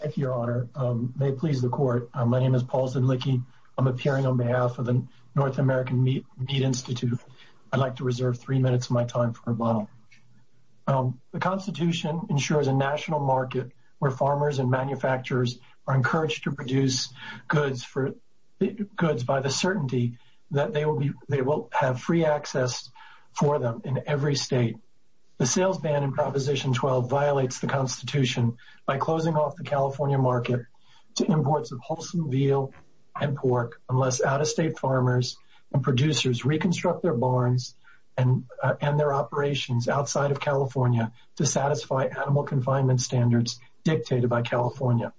Thank you, Your Honor. May it please the Court, my name is Paul Zinlicke. I'm appearing on behalf of the North American Meat Institute. I'd like to reserve three minutes of my time for rebuttal. The Constitution ensures a national market where farmers and manufacturers are encouraged to produce goods by the certainty that they will have free access for them in every state. The sales ban in Proposition 12 violates the Constitution by closing off the California market to imports of wholesome veal and pork unless out-of-state farmers and producers reconstruct their barns and their operations outside of California to satisfy animal confinement standards dictated by California.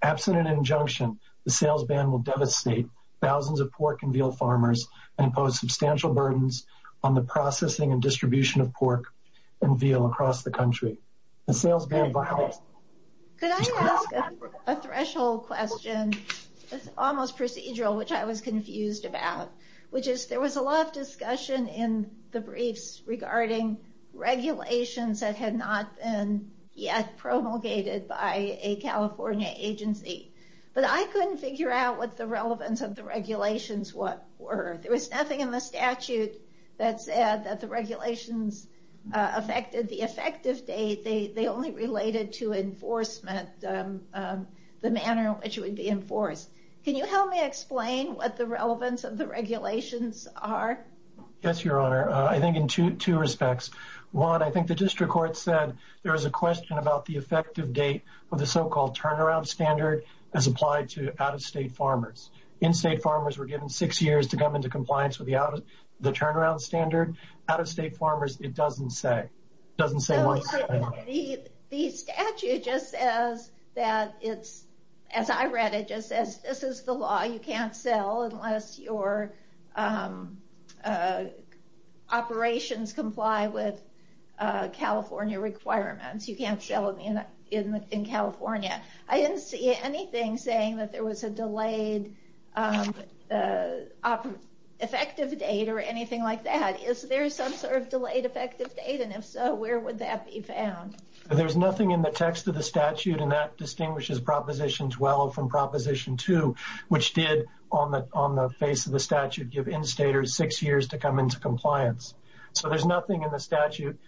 Absent an injunction, the sales ban will devastate thousands of pork and veal farmers and impose substantial burdens on the processing and distribution of pork and veal across the country. Could I ask a threshold question? It's almost procedural, which I was confused about. There was a lot of discussion in the briefs regarding regulations that had not been yet promulgated by a California agency, but I couldn't figure out what the relevance of the regulations were. There was nothing in the statute that said that the regulations affected the effective date. They only related to enforcement, the manner in which it would be enforced. Can you help me explain what the relevance of the regulations are? Yes, Your Honor. I think in two respects. One, I think the district court said there was a question about the effective date of the so-called turnaround standard as applied to out-of-state farmers. In-state farmers were given six years to come into compliance with the turnaround standard. Out-of-state farmers, it doesn't say. The statute just says that, as I read it, this is the law. You can't sell unless your operations comply with California requirements. You can't sell in California. I didn't see anything saying that there was a delayed effective date or anything like that. Is there some sort of delayed effective date, and if so, where would that be found? There's nothing in the text of the statute, and that distinguishes Proposition 12 from Proposition 2, which did, on the face of the statute, give in-staters six years to come into compliance. So there's nothing in the statute.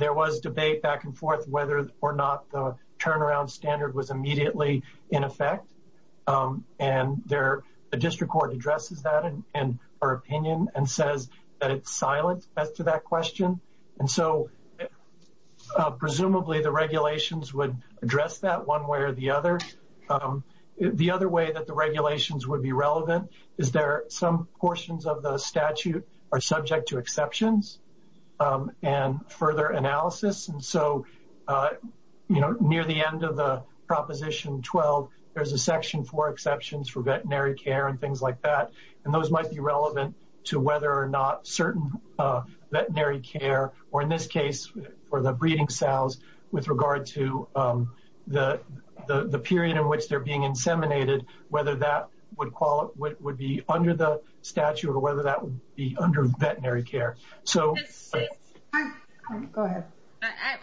There was debate back and forth whether or not the turnaround standard was immediately in effect, and the district court addresses that in her opinion and says that it's silent as to that question. Presumably, the regulations would address that one way or the other. The other way that the regulations would be relevant is that some portions of the statute are subject to exceptions and further analysis. So near the end of the Proposition 12, there's a section for exceptions for veterinary care and things like that, and those might be relevant to whether or not certain veterinary care, or in this case, for the breeding sows, with regard to the period in which they're being inseminated, whether that would be under the statute or whether that would be under veterinary care. Go ahead.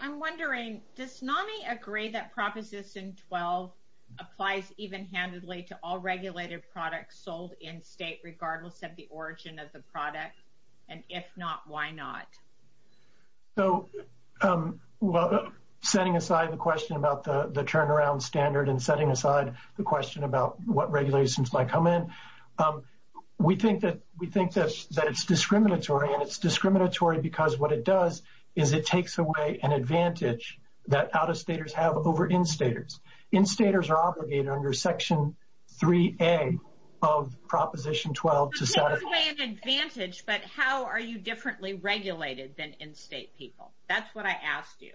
I'm wondering, does NAMI agree that Proposition 12 applies even-handedly to all regulated products sold in-state, regardless of the origin of the product? And if not, why not? Setting aside the question about the turnaround standard and setting aside the question about what regulations might come in, we think that it's discriminatory, and it's discriminatory because what it does is it takes away an advantage that out-of-staters have over in-staters. In-staters are obligated under Section 3A of Proposition 12 to set... It takes away an advantage, but how are you differently regulated than in-state people? That's what I asked you.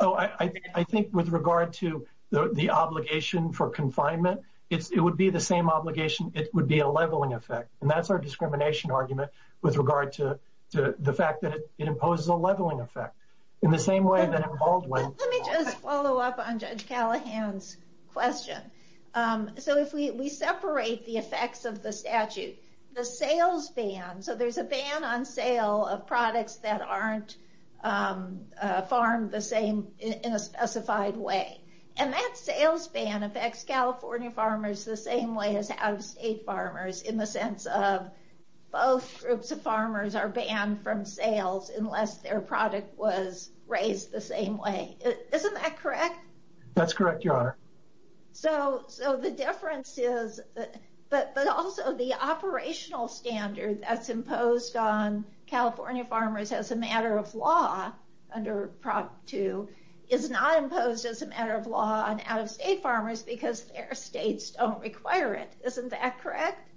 Oh, I think with regard to the obligation for confinement, it would be the same obligation. It would be a leveling effect, and that's our discrimination argument with regard to the fact that it imposes a leveling effect. In the same way that in Baldwin... Let me just follow up on Judge Callahan's question. So if we separate the effects of the statute, the sales ban, so there's a ban on sale of products that aren't farmed the same in a specified way. And that sales ban affects California farmers the same way as out-of-state farmers in the sense of both groups of farmers are banned from sales unless their product was raised the same way. Isn't that correct? That's correct, Your Honor. So the difference is... But also the operational standard that's imposed on California farmers as a matter of law under Prop 2 is not imposed as a matter of law on out-of-state farmers because their states don't require it. Isn't that correct?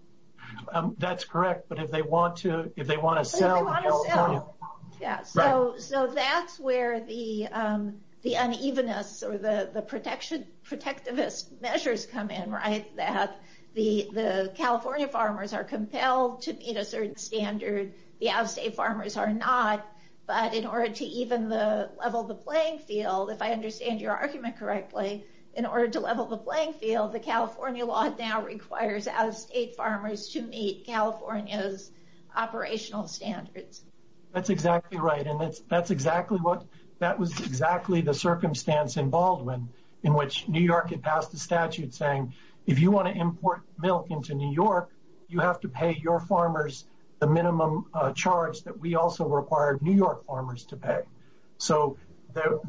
That's correct, but if they want to sell... Yeah, so that's where the unevenness or the protectivist measures come in, right? That the California farmers are compelled to meet a certain standard, the out-of-state farmers are not. But in order to even level the playing field, if I understand your argument correctly, in order to level the playing field, the California law now requires out-of-state farmers to meet California's operational standards. That's exactly right, and that's exactly what... That was exactly the circumstance in Baldwin in which New York had passed a statute saying, if you want to import milk into New York, you have to pay your farmers the minimum charge that we also required New York farmers to pay. So there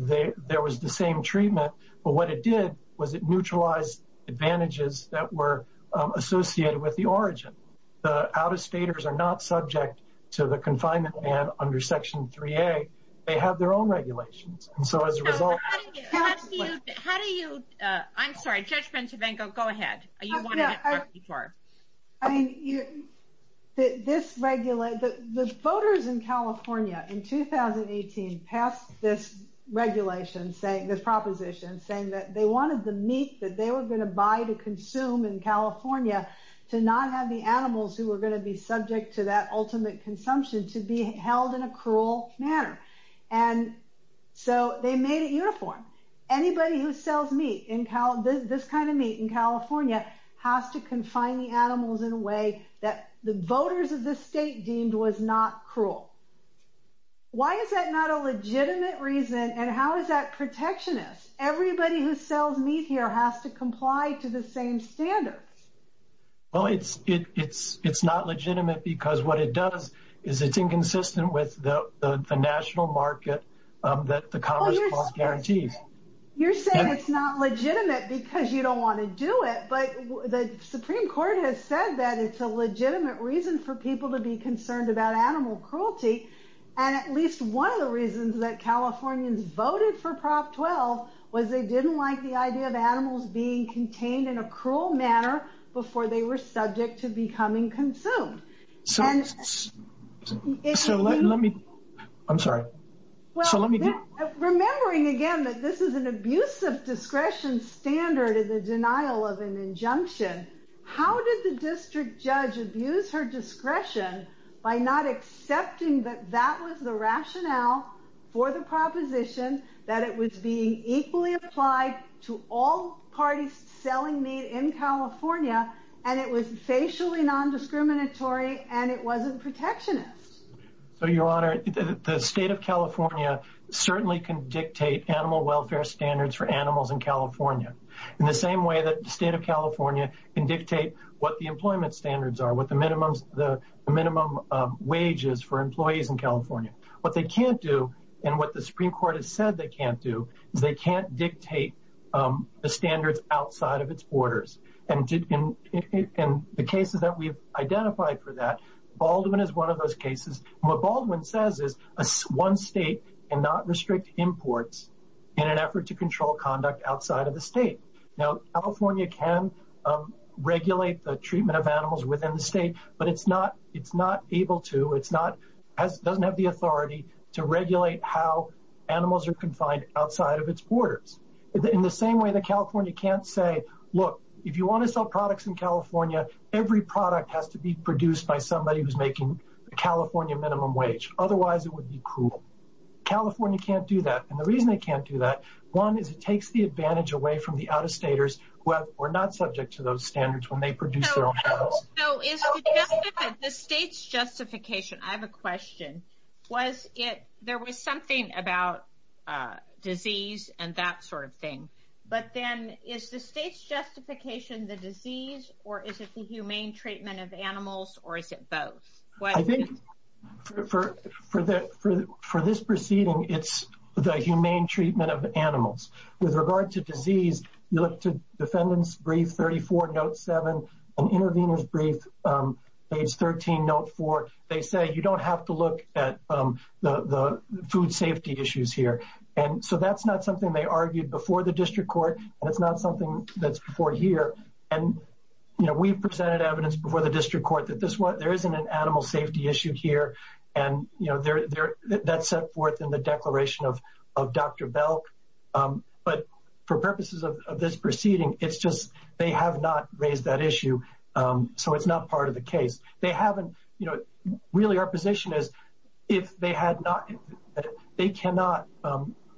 was the same treatment, but what it did was it neutralized advantages that were associated with the origin. The out-of-staters are not subject to the confinement ban under Section 3A. They have their own regulations, and so as a result... How do you... I'm sorry, Judge Bencivengo, go ahead. I mean, the voters in California in 2018 passed this regulation, this proposition, saying that they wanted the meat that they were going to buy to consume in California to not have the animals who were going to be subject to that ultimate consumption to be held in a cruel manner. And so they made it uniform. Anybody who sells meat, this kind of meat in California, has to confine the animals in a way that the voters of the state deemed was not cruel. Why is that not a legitimate reason, and how is that protectionist? Everybody who sells meat here has to comply to the same standards. Well, it's not legitimate because what it does is it's inconsistent with the national market that the Commerce Clause guarantees. You're saying it's not legitimate because you don't want to do it, but the Supreme Court has said that it's a legitimate reason for people to be concerned about animal cruelty, and at least one of the reasons that Californians voted for Prop 12 was they didn't like the idea of animals being contained in a cruel manner before they were subject to becoming consumed. So let me, I'm sorry. Remembering again that this is an abuse of discretion standard in the denial of an injunction, how did the district judge abuse her discretion by not accepting that that was the rationale for the proposition, that it was being equally applied to all parties selling meat in California, and it was facially non-discriminatory, and it wasn't protectionist? So, Your Honor, the state of California certainly can dictate animal welfare standards for animals in California in the same way that the state of California can dictate what the employment standards are, what the minimum wages for employees in California. What they can't do, and what the Supreme Court has said they can't do, is they can't dictate the standards outside of its borders, and in the cases that we've identified for that, Baldwin is one of those cases. What Baldwin says is one state cannot restrict imports in an effort to control conduct outside of the state. Now, California can regulate the treatment of animals within the state, but it's not able to, it's not, doesn't have the authority to regulate how animals are confined outside of its borders. In the same way that California can't say, look, if you want to sell products in California, every product has to be produced by somebody who's making the California minimum wage. Otherwise, it would be cruel. California can't do that, and the reason they can't do that, one, is it takes the advantage away from the out-of-staters who are not subject to those standards when they produce their own products. So, is the state's justification, I have a question, was it, there was something about disease and that sort of thing, but then is the state's justification the disease, or is it the humane treatment of animals, or is it both? I think for this proceeding, it's the humane treatment of animals. With regard to disease, you look to defendant's brief 34, note 7, and intervener's brief, page 13, note 4. They say you don't have to look at the food safety issues here, and so that's not something they argued before the district court, and it's not something that's before here. We presented evidence before the district court that there isn't an animal safety issue here, and that's set forth in the declaration of Dr. Belk. But for purposes of this proceeding, it's just they have not raised that issue, so it's not part of the case. They haven't, you know, really our position is if they had not, they cannot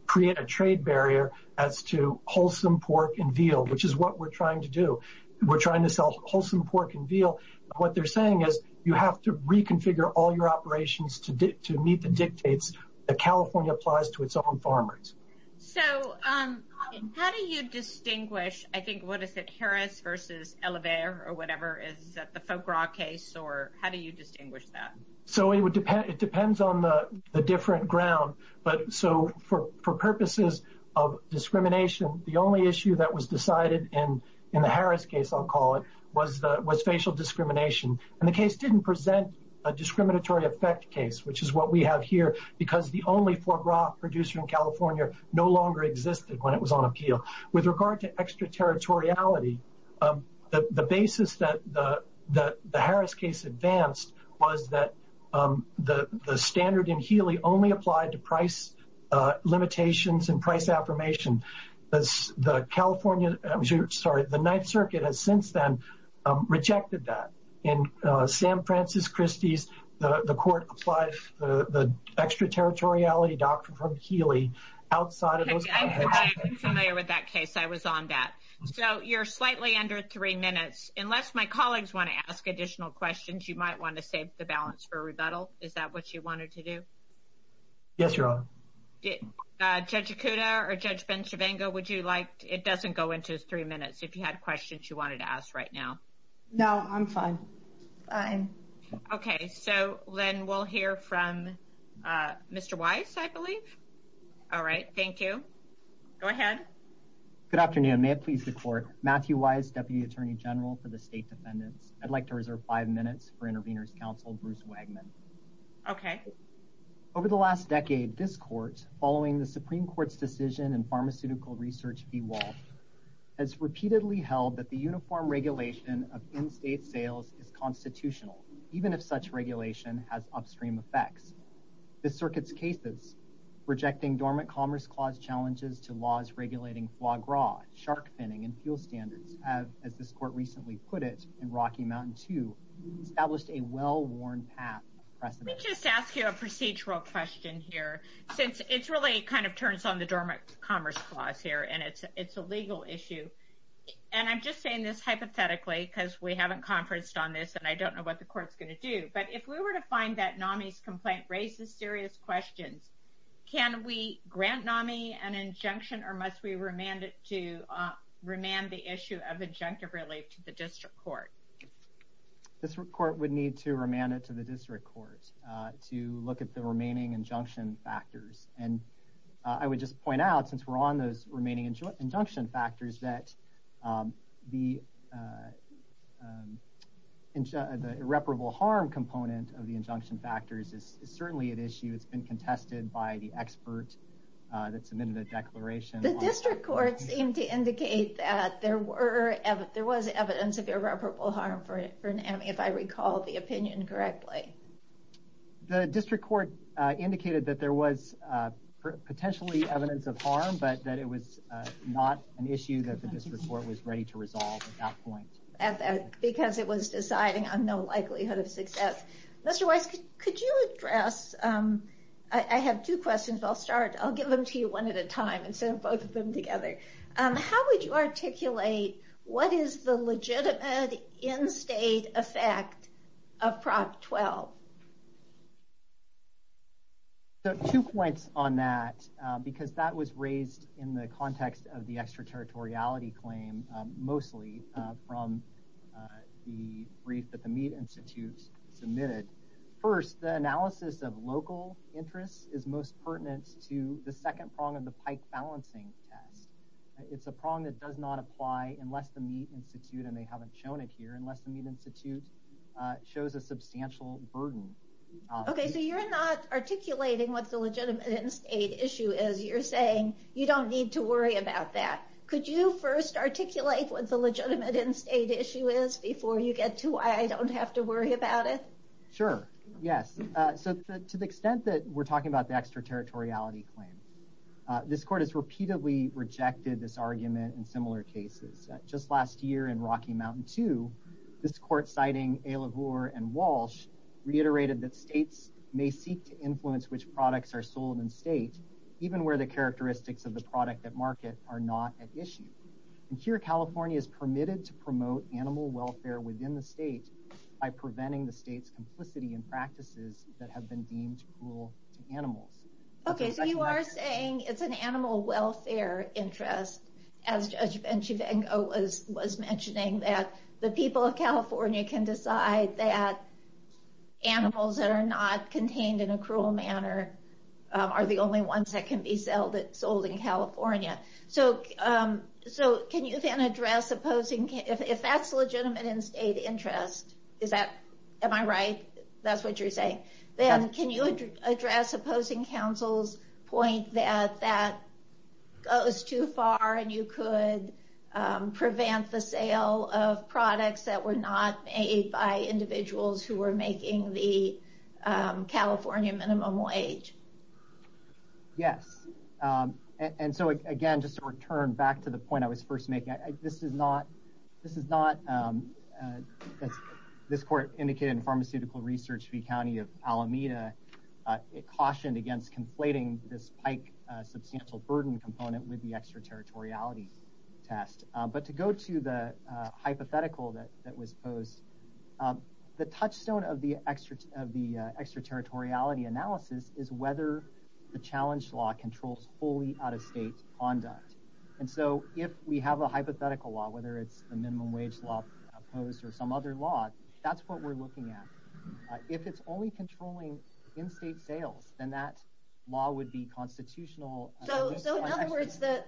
create a trade barrier as to wholesome pork and veal, which is what we're trying to do. We're trying to sell wholesome pork and veal. What they're saying is you have to reconfigure all your operations to meet the dictates that California applies to its own farmers. So how do you distinguish, I think, what is it, Harris versus Elever, or whatever, is that the Folk Rock case, or how do you distinguish that? So it depends on the different ground, but so for purposes of discrimination, the only issue that was decided in the Harris case, I'll call it, was facial discrimination. And the case didn't present a discriminatory effect case, which is what we have here, because the only Folk Rock producer in California no longer existed when it was on appeal. With regard to extraterritoriality, the basis that the Harris case advanced was that the standard in Healy only applied to price limitations and price affirmation. The California, I'm sorry, the Ninth Circuit has since then rejected that. In Sam Francis Christie's, the court applied the extraterritoriality doctrine from Healy outside of those. I'm familiar with that case. I was on that. So you're slightly under three minutes. Unless my colleagues want to ask additional questions, you might want to save the balance for rebuttal. Is that what you wanted to do? Yes, Your Honor. Judge Acuda or Judge Benchavango, would you like, it doesn't go into three minutes. If you had questions you wanted to ask right now. No, I'm fine. Okay, so then we'll hear from Mr. Weiss, I believe. All right. Thank you. Go ahead. Good afternoon. May it please the court. Matthew Weiss, Deputy Attorney General for the State Defendants. I'd like to reserve five minutes for Interveners Counsel, Bruce Wagman. Okay. Over the last decade, this court, following the Supreme Court's decision in Pharmaceutical Research v. Wolf, has repeatedly held that the uniform regulation of in-state sales is constitutional, even if such regulation has upstream effects. This circuit's cases, rejecting Dormant Commerce Clause challenges to laws regulating foie gras, shark finning, and fuel standards, have, as this court recently put it in Rocky Mountain II, established a well-worn path precedent. Let me just ask you a procedural question here, since it really kind of turns on the Dormant Commerce Clause here, and it's a legal issue. And I'm just saying this hypothetically, because we haven't conferenced on this, and I don't know what the court's going to do. But if we were to find that NAMI's complaint raises serious questions, can we grant NAMI an injunction, or must we remand it to remand the issue of injunctive relief to the district court? This court would need to remand it to the district court to look at the remaining injunction factors. And I would just point out, since we're on those remaining injunction factors, that the irreparable harm component of the injunction factors is certainly at issue. It's been contested by the expert that submitted a declaration. The district court seemed to indicate that there was evidence of irreparable harm for NAMI, if I recall the opinion correctly. The district court indicated that there was potentially evidence of harm, but that it was not an issue that the district court was ready to resolve at that point. Because it was deciding on no likelihood of success. Mr. Weiss, could you address—I have two questions, but I'll start. I'll get them to you one at a time instead of both of them together. How would you articulate what is the legitimate in-state effect of Prop 12? Two points on that, because that was raised in the context of the extraterritoriality claim, mostly from the brief that the Mead Institute submitted. First, the analysis of local interests is most pertinent to the second prong of the pike balancing test. It's a prong that does not apply unless the Mead Institute—and they haven't shown it here— unless the Mead Institute shows a substantial burden. Okay, so you're not articulating what the legitimate in-state issue is. You're saying you don't need to worry about that. Could you first articulate what the legitimate in-state issue is before you get to why I don't have to worry about it? Sure, yes. To the extent that we're talking about the extraterritoriality claim, this Court has repeatedly rejected this argument in similar cases. Just last year in Rocky Mountain II, this Court, citing A. LaGour and Walsh, reiterated that states may seek to influence which products are sold in-state, and here California is permitted to promote animal welfare within the state by preventing the state's complicity in practices that have been deemed cruel to animals. Okay, so you are saying it's an animal welfare interest, as Judge Benchivengo was mentioning, that the people of California can decide that animals that are not contained in a cruel manner are the only ones that can be sold in California. So can you then address opposing... If that's legitimate in-state interest, am I right? That's what you're saying. Can you address opposing counsel's point that that goes too far and you could prevent the sale of products that were not made by individuals who were making the California minimum wage? Yes. And so again, just to return back to the point I was first making, this is not, as this Court indicated in Pharmaceutical Research v. County of Alameda, it cautioned against conflating this PIKE substantial burden component with the extraterritoriality test. But to go to the hypothetical that was posed, the touchstone of the extraterritoriality analysis is whether the challenge law controls fully out-of-state conduct. And so if we have a hypothetical law, whether it's the minimum wage law posed or some other law, that's what we're looking at. If it's only controlling in-state sales, then that law would be constitutional... So in other words, the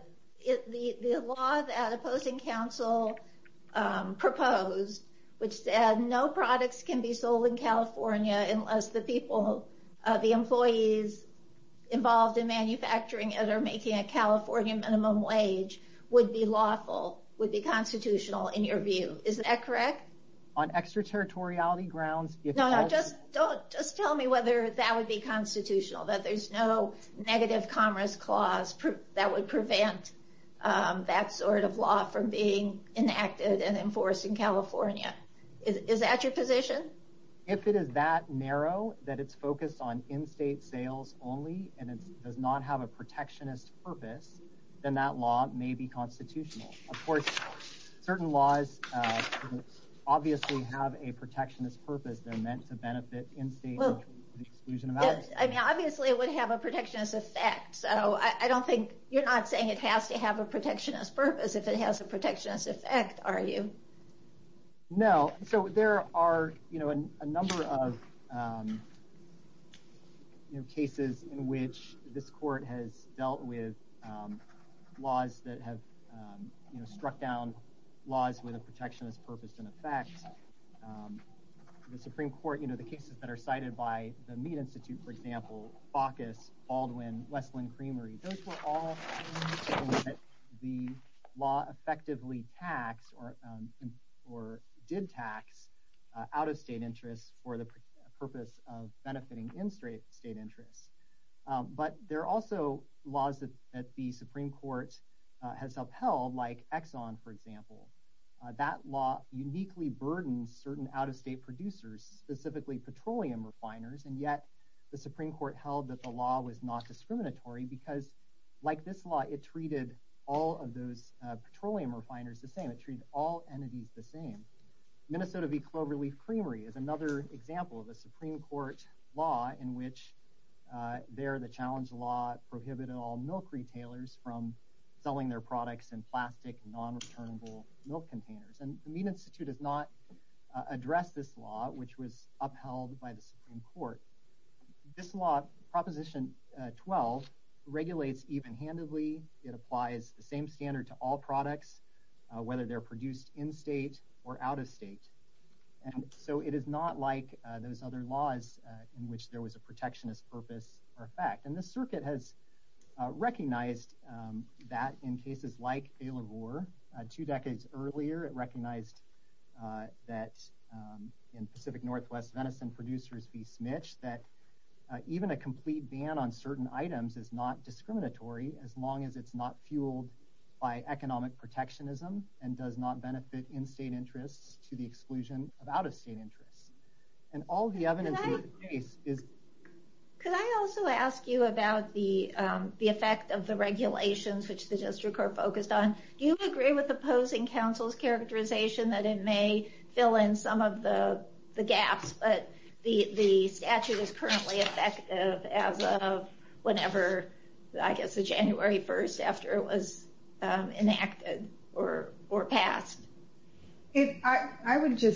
law that opposing counsel proposed, which said no products can be sold in California unless the employees involved in manufacturing that are making a California minimum wage would be lawful, would be constitutional in your view. Is that correct? On extraterritoriality grounds... No, no, just tell me whether that would be constitutional, that there's no negative commerce clause that would prevent that sort of law from being enacted and enforced in California. Is that your position? If it is that narrow, that it's focused on in-state sales only, and it does not have a protectionist purpose, then that law may be constitutional. Of course, certain laws obviously have a protectionist purpose. They're meant to benefit in-state... I mean, obviously it would have a protectionist effect. I don't think... You're not saying it has to have a protectionist purpose if it has a protectionist effect, are you? No. So there are a number of cases in which this court has dealt with laws that have struck down laws with a protectionist purpose and effect. The Supreme Court, the cases that are cited by the Meat Institute, for example, Baucus, Baldwin, Westland Creamery, those were all cases in which the law effectively taxed or did tax out-of-state interests for the purpose of benefiting in-state interests. But there are also laws that the Supreme Court has upheld, like Exxon, for example. That law uniquely burdened certain out-of-state producers, specifically petroleum refiners, and yet the Supreme Court held that the law was not discriminatory because, like this law, it treated all of those petroleum refiners the same. It treated all entities the same. Minnesota v. Cloverleaf Creamery is another example of a Supreme Court law in which there the challenge law prohibited all milk retailers from selling their products in plastic, non-returnable milk containers. And the Meat Institute has not addressed this law, which was upheld by the Supreme Court. This law, Proposition 12, regulates even-handedly. It applies the same standard to all products, whether they're produced in-state or out-of-state. And so it is not like those other laws in which there was a protectionist purpose or effect. And the circuit has recognized that in cases like Baylor-Roar. Two decades earlier, it recognized that in Pacific Northwest Venison producers v. Smich, that even a complete ban on certain items is not discriminatory as long as it's not fueled by economic protectionism and does not benefit in-state interests to the exclusion of out-of-state interests. And all the evidence in the case is... Could I also ask you about the effect of the regulations which the district are focused on? Do you agree with opposing counsel's characterization that it may fill in some of the gaps, but the statute is currently effective as of whenever, I guess the January 1st, after it was enacted or passed? According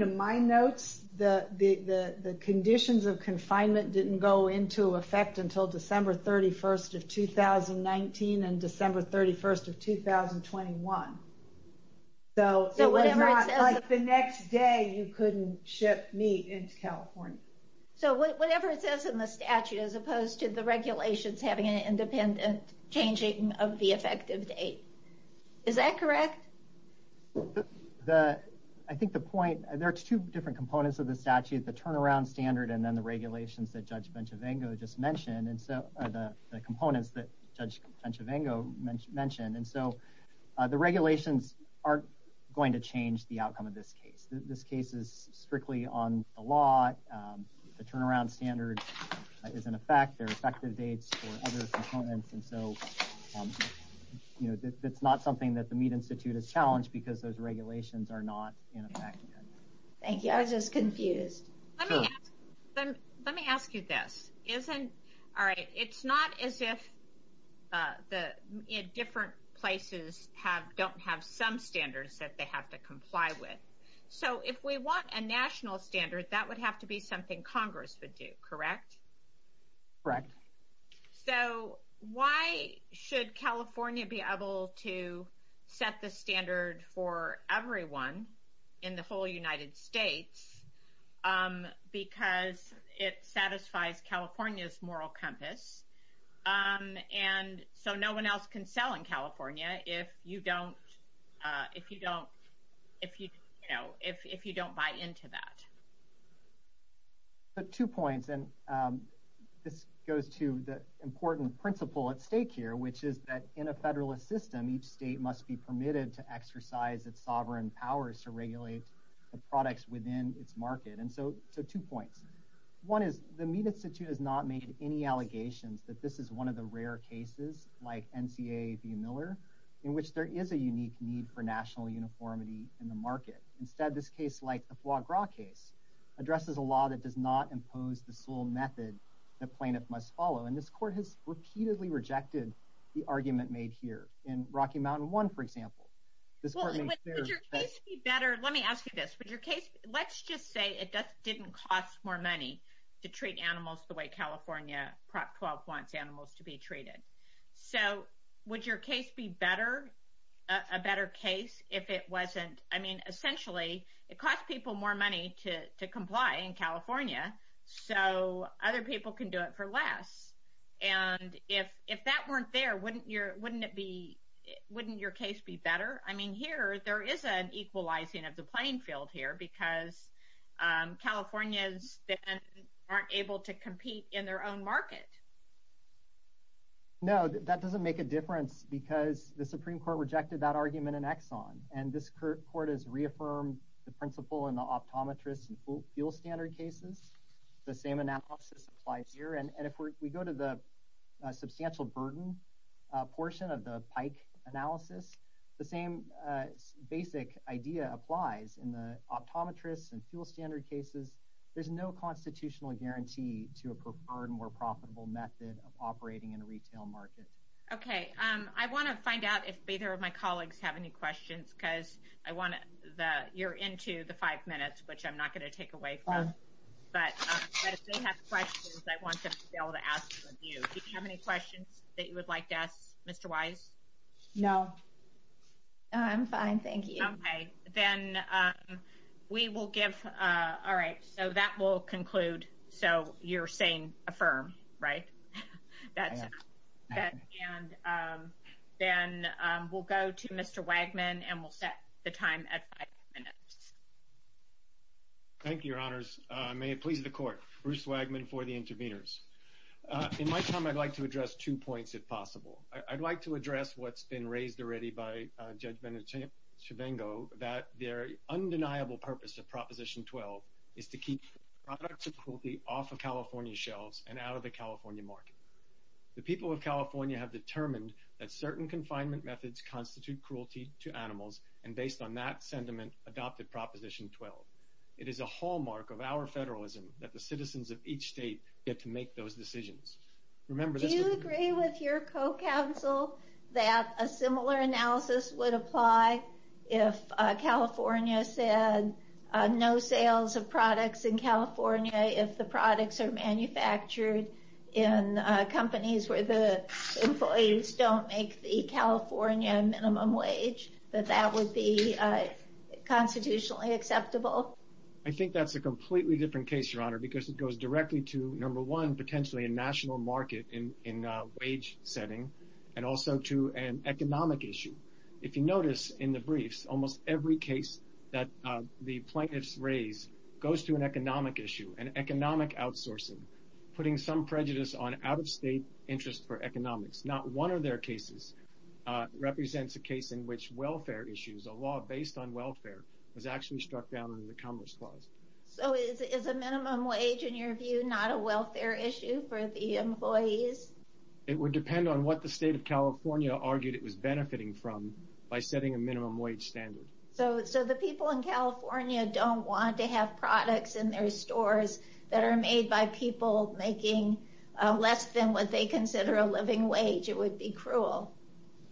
to my notes, the conditions of confinement didn't go into effect until December 31st of 2019 and December 31st of 2021. So it was not like the next day you couldn't ship meat into California. So whatever it says in the statute, as opposed to the regulations having an independent changing of the effective date. Is that correct? I think the point... There are two different components of the statute, the turnaround standard and then the regulations that Judge Benchavango just mentioned, the components that Judge Benchavango mentioned. And so the regulations aren't going to change the outcome of this case. This case is strictly on the law. The turnaround standard is in effect. There are effective dates for other components. And so it's not something that the Meat Institute is challenged because those regulations are not in effect. Thank you. I was just confused. Let me ask you this. It's not as if different places don't have some standards that they have to comply with. So if we want a national standard, that would have to be something Congress would do, correct? Correct. So why should California be able to set the standard for everyone in the whole United States because it satisfies California's moral compass? And so no one else can sell in California if you don't buy into that. Two points, and this goes to the important principle at stake here, which is that in a Federalist system, each state must be permitted to exercise its sovereign powers to regulate the products within its market. And so two points. One is the Meat Institute has not made any allegations that this is one of the rare cases, like NCA v. Miller, in which there is a unique need for national uniformity in the market. Instead, this case, like the Foie Gras case, addresses a law that does not impose the sole method the plaintiff must follow. And this Court has repeatedly rejected the argument made here. In Rocky Mountain One, for example, this Court makes clear that let's just say it didn't cost more money to treat animals the way California Prop 12 wants animals to be treated. So would your case be a better case if it wasn't? I mean, essentially, it costs people more money to comply in California, so other people can do it for less. And if that weren't there, wouldn't your case be better? I mean, here, there is an equalizing of the playing field here because Californians then aren't able to compete in their own market. No, that doesn't make a difference because the Supreme Court rejected that argument in Exxon. And this Court has reaffirmed the principle in the optometrists and fuel standard cases. The same analysis applies here. And if we go to the substantial burden portion of the Pike analysis, the same basic idea applies in the optometrists and fuel standard cases. There's no constitutional guarantee to a preferred, more profitable method of operating in a retail market. Okay. I want to find out if either of my colleagues have any questions because you're into the five minutes, which I'm not going to take away from. But if they have questions, I want to be able to ask them of you. Do you have any questions that you would like to ask Mr. Wise? No. I'm fine. Thank you. Okay. Then we will give – all right. So that will conclude. So you're saying affirm, right? That's it. And then we'll go to Mr. Wagman and we'll set the time at five minutes. Thank you, Your Honors. May it please the Court. Bruce Wagman for the interveners. In my time, I'd like to address two points, if possible. I'd like to address what's been raised already by Judge Benchavango, that the undeniable purpose of Proposition 12 is to keep products of cruelty off of California's shelves and out of the California market. The people of California have determined that certain confinement methods constitute cruelty to animals, and based on that sentiment, adopted Proposition 12. It is a hallmark of our federalism that the citizens of each state get to make those decisions. Do you agree with your co-counsel that a similar analysis would apply if California said no sales of products in California, if the products are manufactured in companies where the employees don't make the California minimum wage, that that would be constitutionally acceptable? Because it goes directly to, number one, potentially a national market in a wage setting, and also to an economic issue. If you notice in the briefs, almost every case that the plaintiffs raise goes to an economic issue, an economic outsourcing, putting some prejudice on out-of-state interest for economics. Not one of their cases represents a case in which welfare issues, a law based on welfare, was actually struck down in the Commerce Clause. So is a minimum wage, in your view, not a welfare issue for the employees? It would depend on what the state of California argued it was benefiting from by setting a minimum wage standard. So the people in California don't want to have products in their stores that are made by people making less than what they consider a living wage. It would be cruel.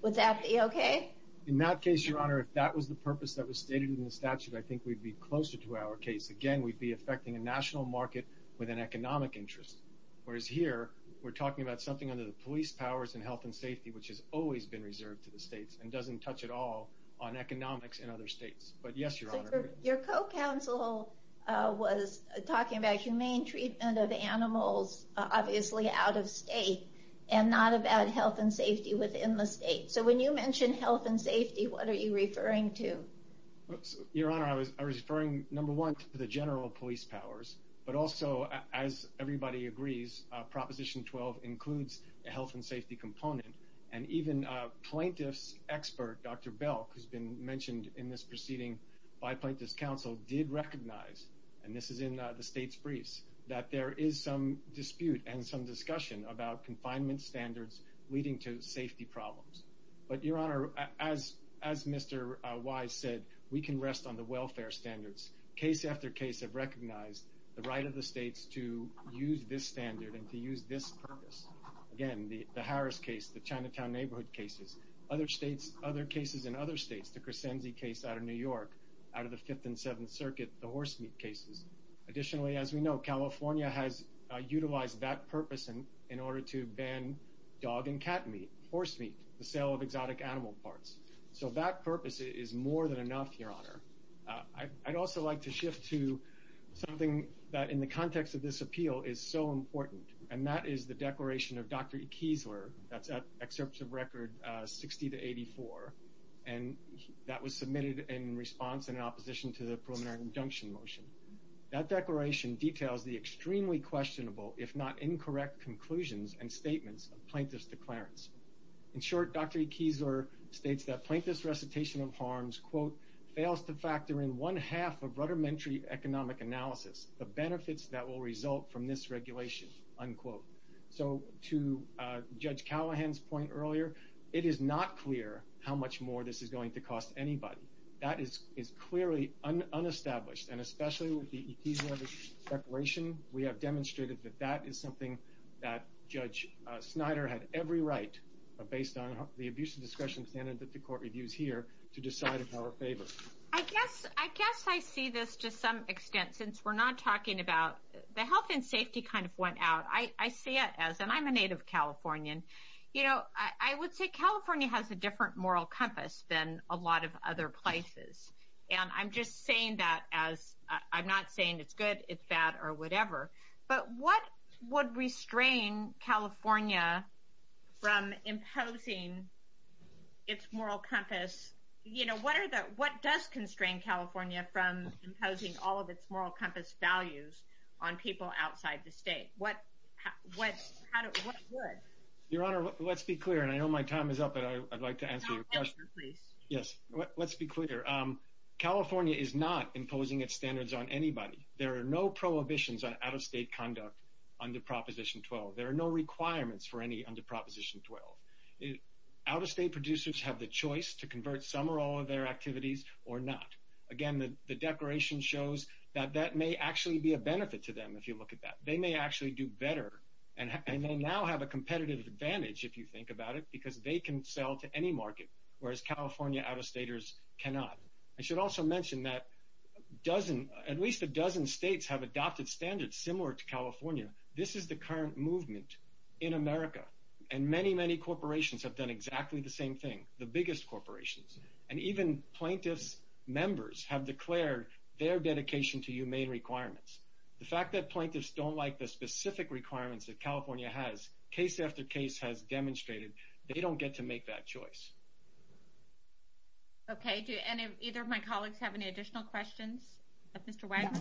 Would that be okay? In that case, Your Honor, if that was the purpose that was stated in the statute, I think we'd be closer to our case. Again, we'd be affecting a national market with an economic interest. Whereas here, we're talking about something under the police powers and health and safety, which has always been reserved to the states and doesn't touch at all on economics in other states. But yes, Your Honor. Your co-counsel was talking about humane treatment of animals, obviously out of state, and not about health and safety within the state. So when you mention health and safety, what are you referring to? Your Honor, I was referring, number one, to the general police powers. But also, as everybody agrees, Proposition 12 includes a health and safety component. And even plaintiff's expert, Dr. Belk, who's been mentioned in this proceeding by plaintiff's counsel, did recognize, and this is in the state's briefs, that there is some dispute and some discussion about confinement standards leading to safety problems. But, Your Honor, as Mr. Wise said, we can rest on the welfare standards. Case after case have recognized the right of the states to use this standard and to use this purpose. Again, the Harris case, the Chinatown neighborhood cases, other cases in other states, the Crescenze case out of New York, out of the Fifth and Seventh Circuit, the horse meat cases. Additionally, as we know, California has utilized that purpose in order to ban dog and cat meat, horse meat, the sale of exotic animal parts. So that purpose is more than enough, Your Honor. I'd also like to shift to something that, in the context of this appeal, is so important, and that is the declaration of Dr. Ekesler, that's at Excerpt of Record 60-84, and that was submitted in response and in opposition to the preliminary injunction motion. That declaration details the extremely questionable, if not incorrect conclusions and statements of plaintiff's declarants. In short, Dr. Ekesler states that plaintiff's recitation of harms, quote, fails to factor in one half of rudimentary economic analysis, the benefits that will result from this regulation, unquote. So to Judge Callahan's point earlier, it is not clear how much more this is going to cost anybody. That is clearly unestablished, and especially with the Ekesler declaration, we have demonstrated that that is something that Judge Snyder had every right, based on the abuse of discretion standard that the Court reviews here, to decide in our favor. I guess I see this to some extent, since we're not talking about, the health and safety kind of went out. I see it as, and I'm a native Californian, I would say California has a different moral compass than a lot of other places. And I'm just saying that as, I'm not saying it's good, it's bad, or whatever. But what would restrain California from imposing its moral compass, you know, what does constrain California from imposing all of its moral compass values on people outside the state? What would? Your Honor, let's be clear, and I know my time is up, but I'd like to answer your question. Yes, let's be clear. California is not imposing its standards on anybody. There are no prohibitions on out-of-state conduct under Proposition 12. There are no requirements for any under Proposition 12. Out-of-state producers have the choice to convert some or all of their activities, or not. Again, the declaration shows that that may actually be a benefit to them, if you look at that. They may actually do better, and they now have a competitive advantage, if you think about it, because they can sell to any market, whereas California out-of-staters cannot. I should also mention that at least a dozen states have adopted standards similar to California. This is the current movement in America, and many, many corporations have done exactly the same thing, the biggest corporations. And even plaintiffs' members have declared their dedication to humane requirements. The fact that plaintiffs don't like the specific requirements that California has, case after case, has demonstrated, they don't get to make that choice. Okay, do either of my colleagues have any additional questions? Mr. Wex? No.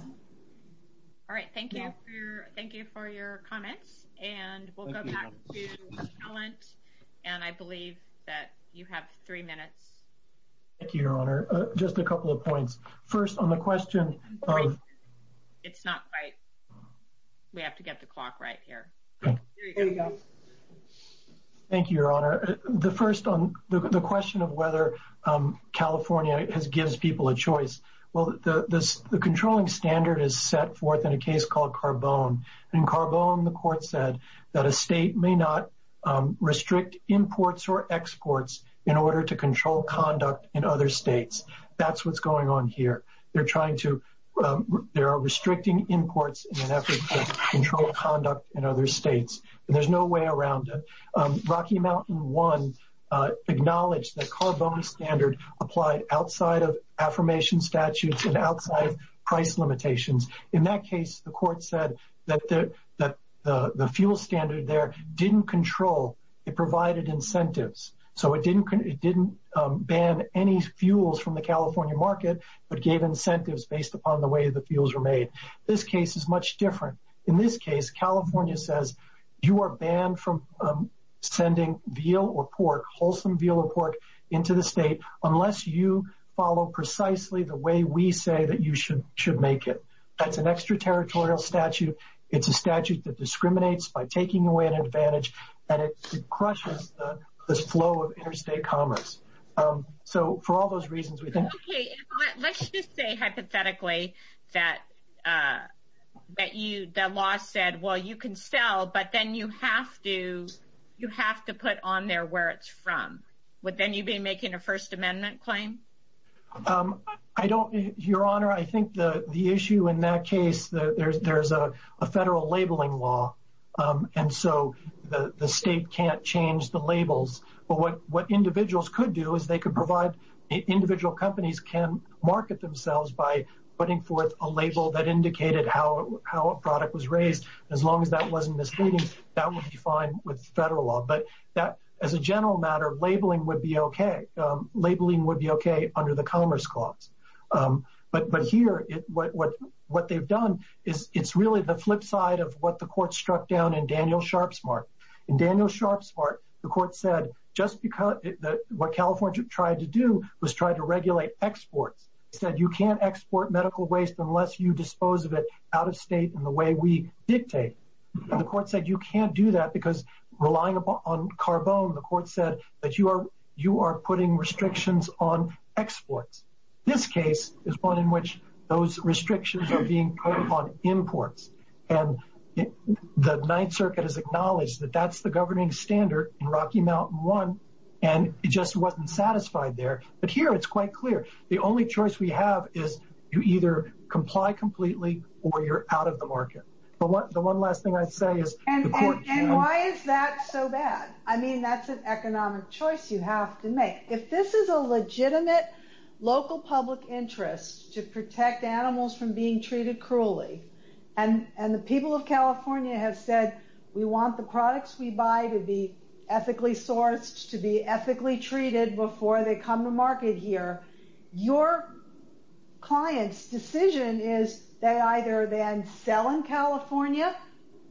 All right, thank you for your comments, and we'll go back to Talent, and I believe that you have three minutes. Thank you, Your Honor. Just a couple of points. First, on the question of— Wait a second. It's not right. We have to get the clock right here. There we go. Thank you, Your Honor. The question of whether California gives people a choice, well, the controlling standard is set forth in a case called Carbone. In Carbone, the court said that a state may not restrict imports or exports in order to control conduct in other states. That's what's going on here. There are restricting imports in an effort to control conduct in other states, and there's no way around it. Rocky Mountain 1 acknowledged that Carbone standard applied outside of affirmation statutes and outside of price limitations. In that case, the court said that the fuel standard there didn't control. It provided incentives, so it didn't ban any fuels from the California market but gave incentives based upon the way the fuels were made. This case is much different. In this case, California says you are banned from sending veal or pork, wholesome veal or pork, into the state unless you follow precisely the way we say that you should make it. That's an extraterritorial statute. It's a statute that discriminates by taking away an advantage, and it crushes this flow of interstate commerce. For all those reasons, we think— Okay. Let's just say hypothetically that the law said, well, you can sell, but then you have to put on there where it's from. Would then you be making a First Amendment claim? Your Honor, I think the issue in that case, there's a federal labeling law, and so the state can't change the labels. But what individuals could do is they could provide— individual companies can market themselves by putting forth a label that indicated how a product was raised. As long as that wasn't misleading, that would be fine with federal law. But as a general matter, labeling would be okay. Labeling would be okay under the Commerce Clause. But here, what they've done is it's really the flip side of what the court struck down in Daniel Sharpsmart. In Daniel Sharpsmart, the court said just because— what California tried to do was try to regulate exports. It said you can't export medical waste unless you dispose of it out of state in the way we dictate. And the court said you can't do that because relying upon carbone, the court said that you are putting restrictions on exports. This case is one in which those restrictions are being put upon imports. The Ninth Circuit has acknowledged that that's the governing standard in Rocky Mountain One, and it just wasn't satisfied there. But here it's quite clear. The only choice we have is you either comply completely or you're out of the market. The one last thing I'd say is the court— And why is that so bad? I mean, that's an economic choice you have to make. If this is a legitimate local public interest to protect animals from being treated cruelly, and the people of California have said we want the products we buy to be ethically sourced, to be ethically treated before they come to market here, your client's decision is they either then sell in California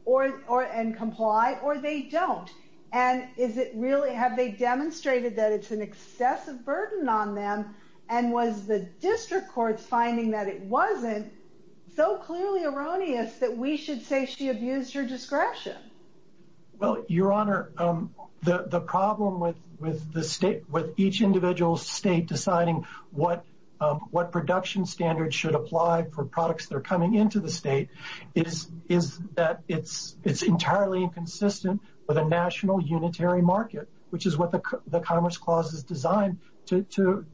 and comply, or they don't. And have they demonstrated that it's an excessive burden on them? And was the district court finding that it wasn't so clearly erroneous that we should say she abused her discretion? Well, Your Honor, the problem with each individual state deciding what production standards should apply for products that are coming into the state is that it's entirely inconsistent with a national unitary market, which is what the Commerce Clause is designed to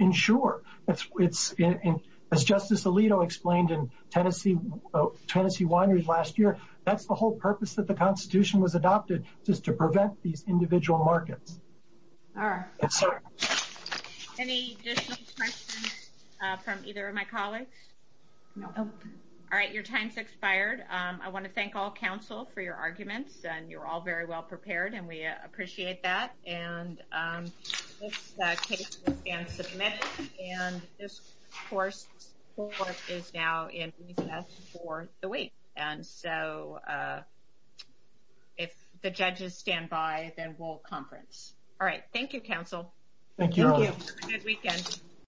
ensure. As Justice Alito explained in Tennessee wineries last year, that's the whole purpose that the Constitution was adopted, just to prevent these individual markets. All right. Any additional questions from either of my colleagues? No. All right, your time's expired. I want to thank all counsel for your arguments, and you're all very well prepared, and we appreciate that. And this case will stand submitted, and this court is now in recess for the week. And so if the judges stand by, then we'll conference. All right, thank you, counsel. Thank you, Your Honor. Thank you. Have a good weekend.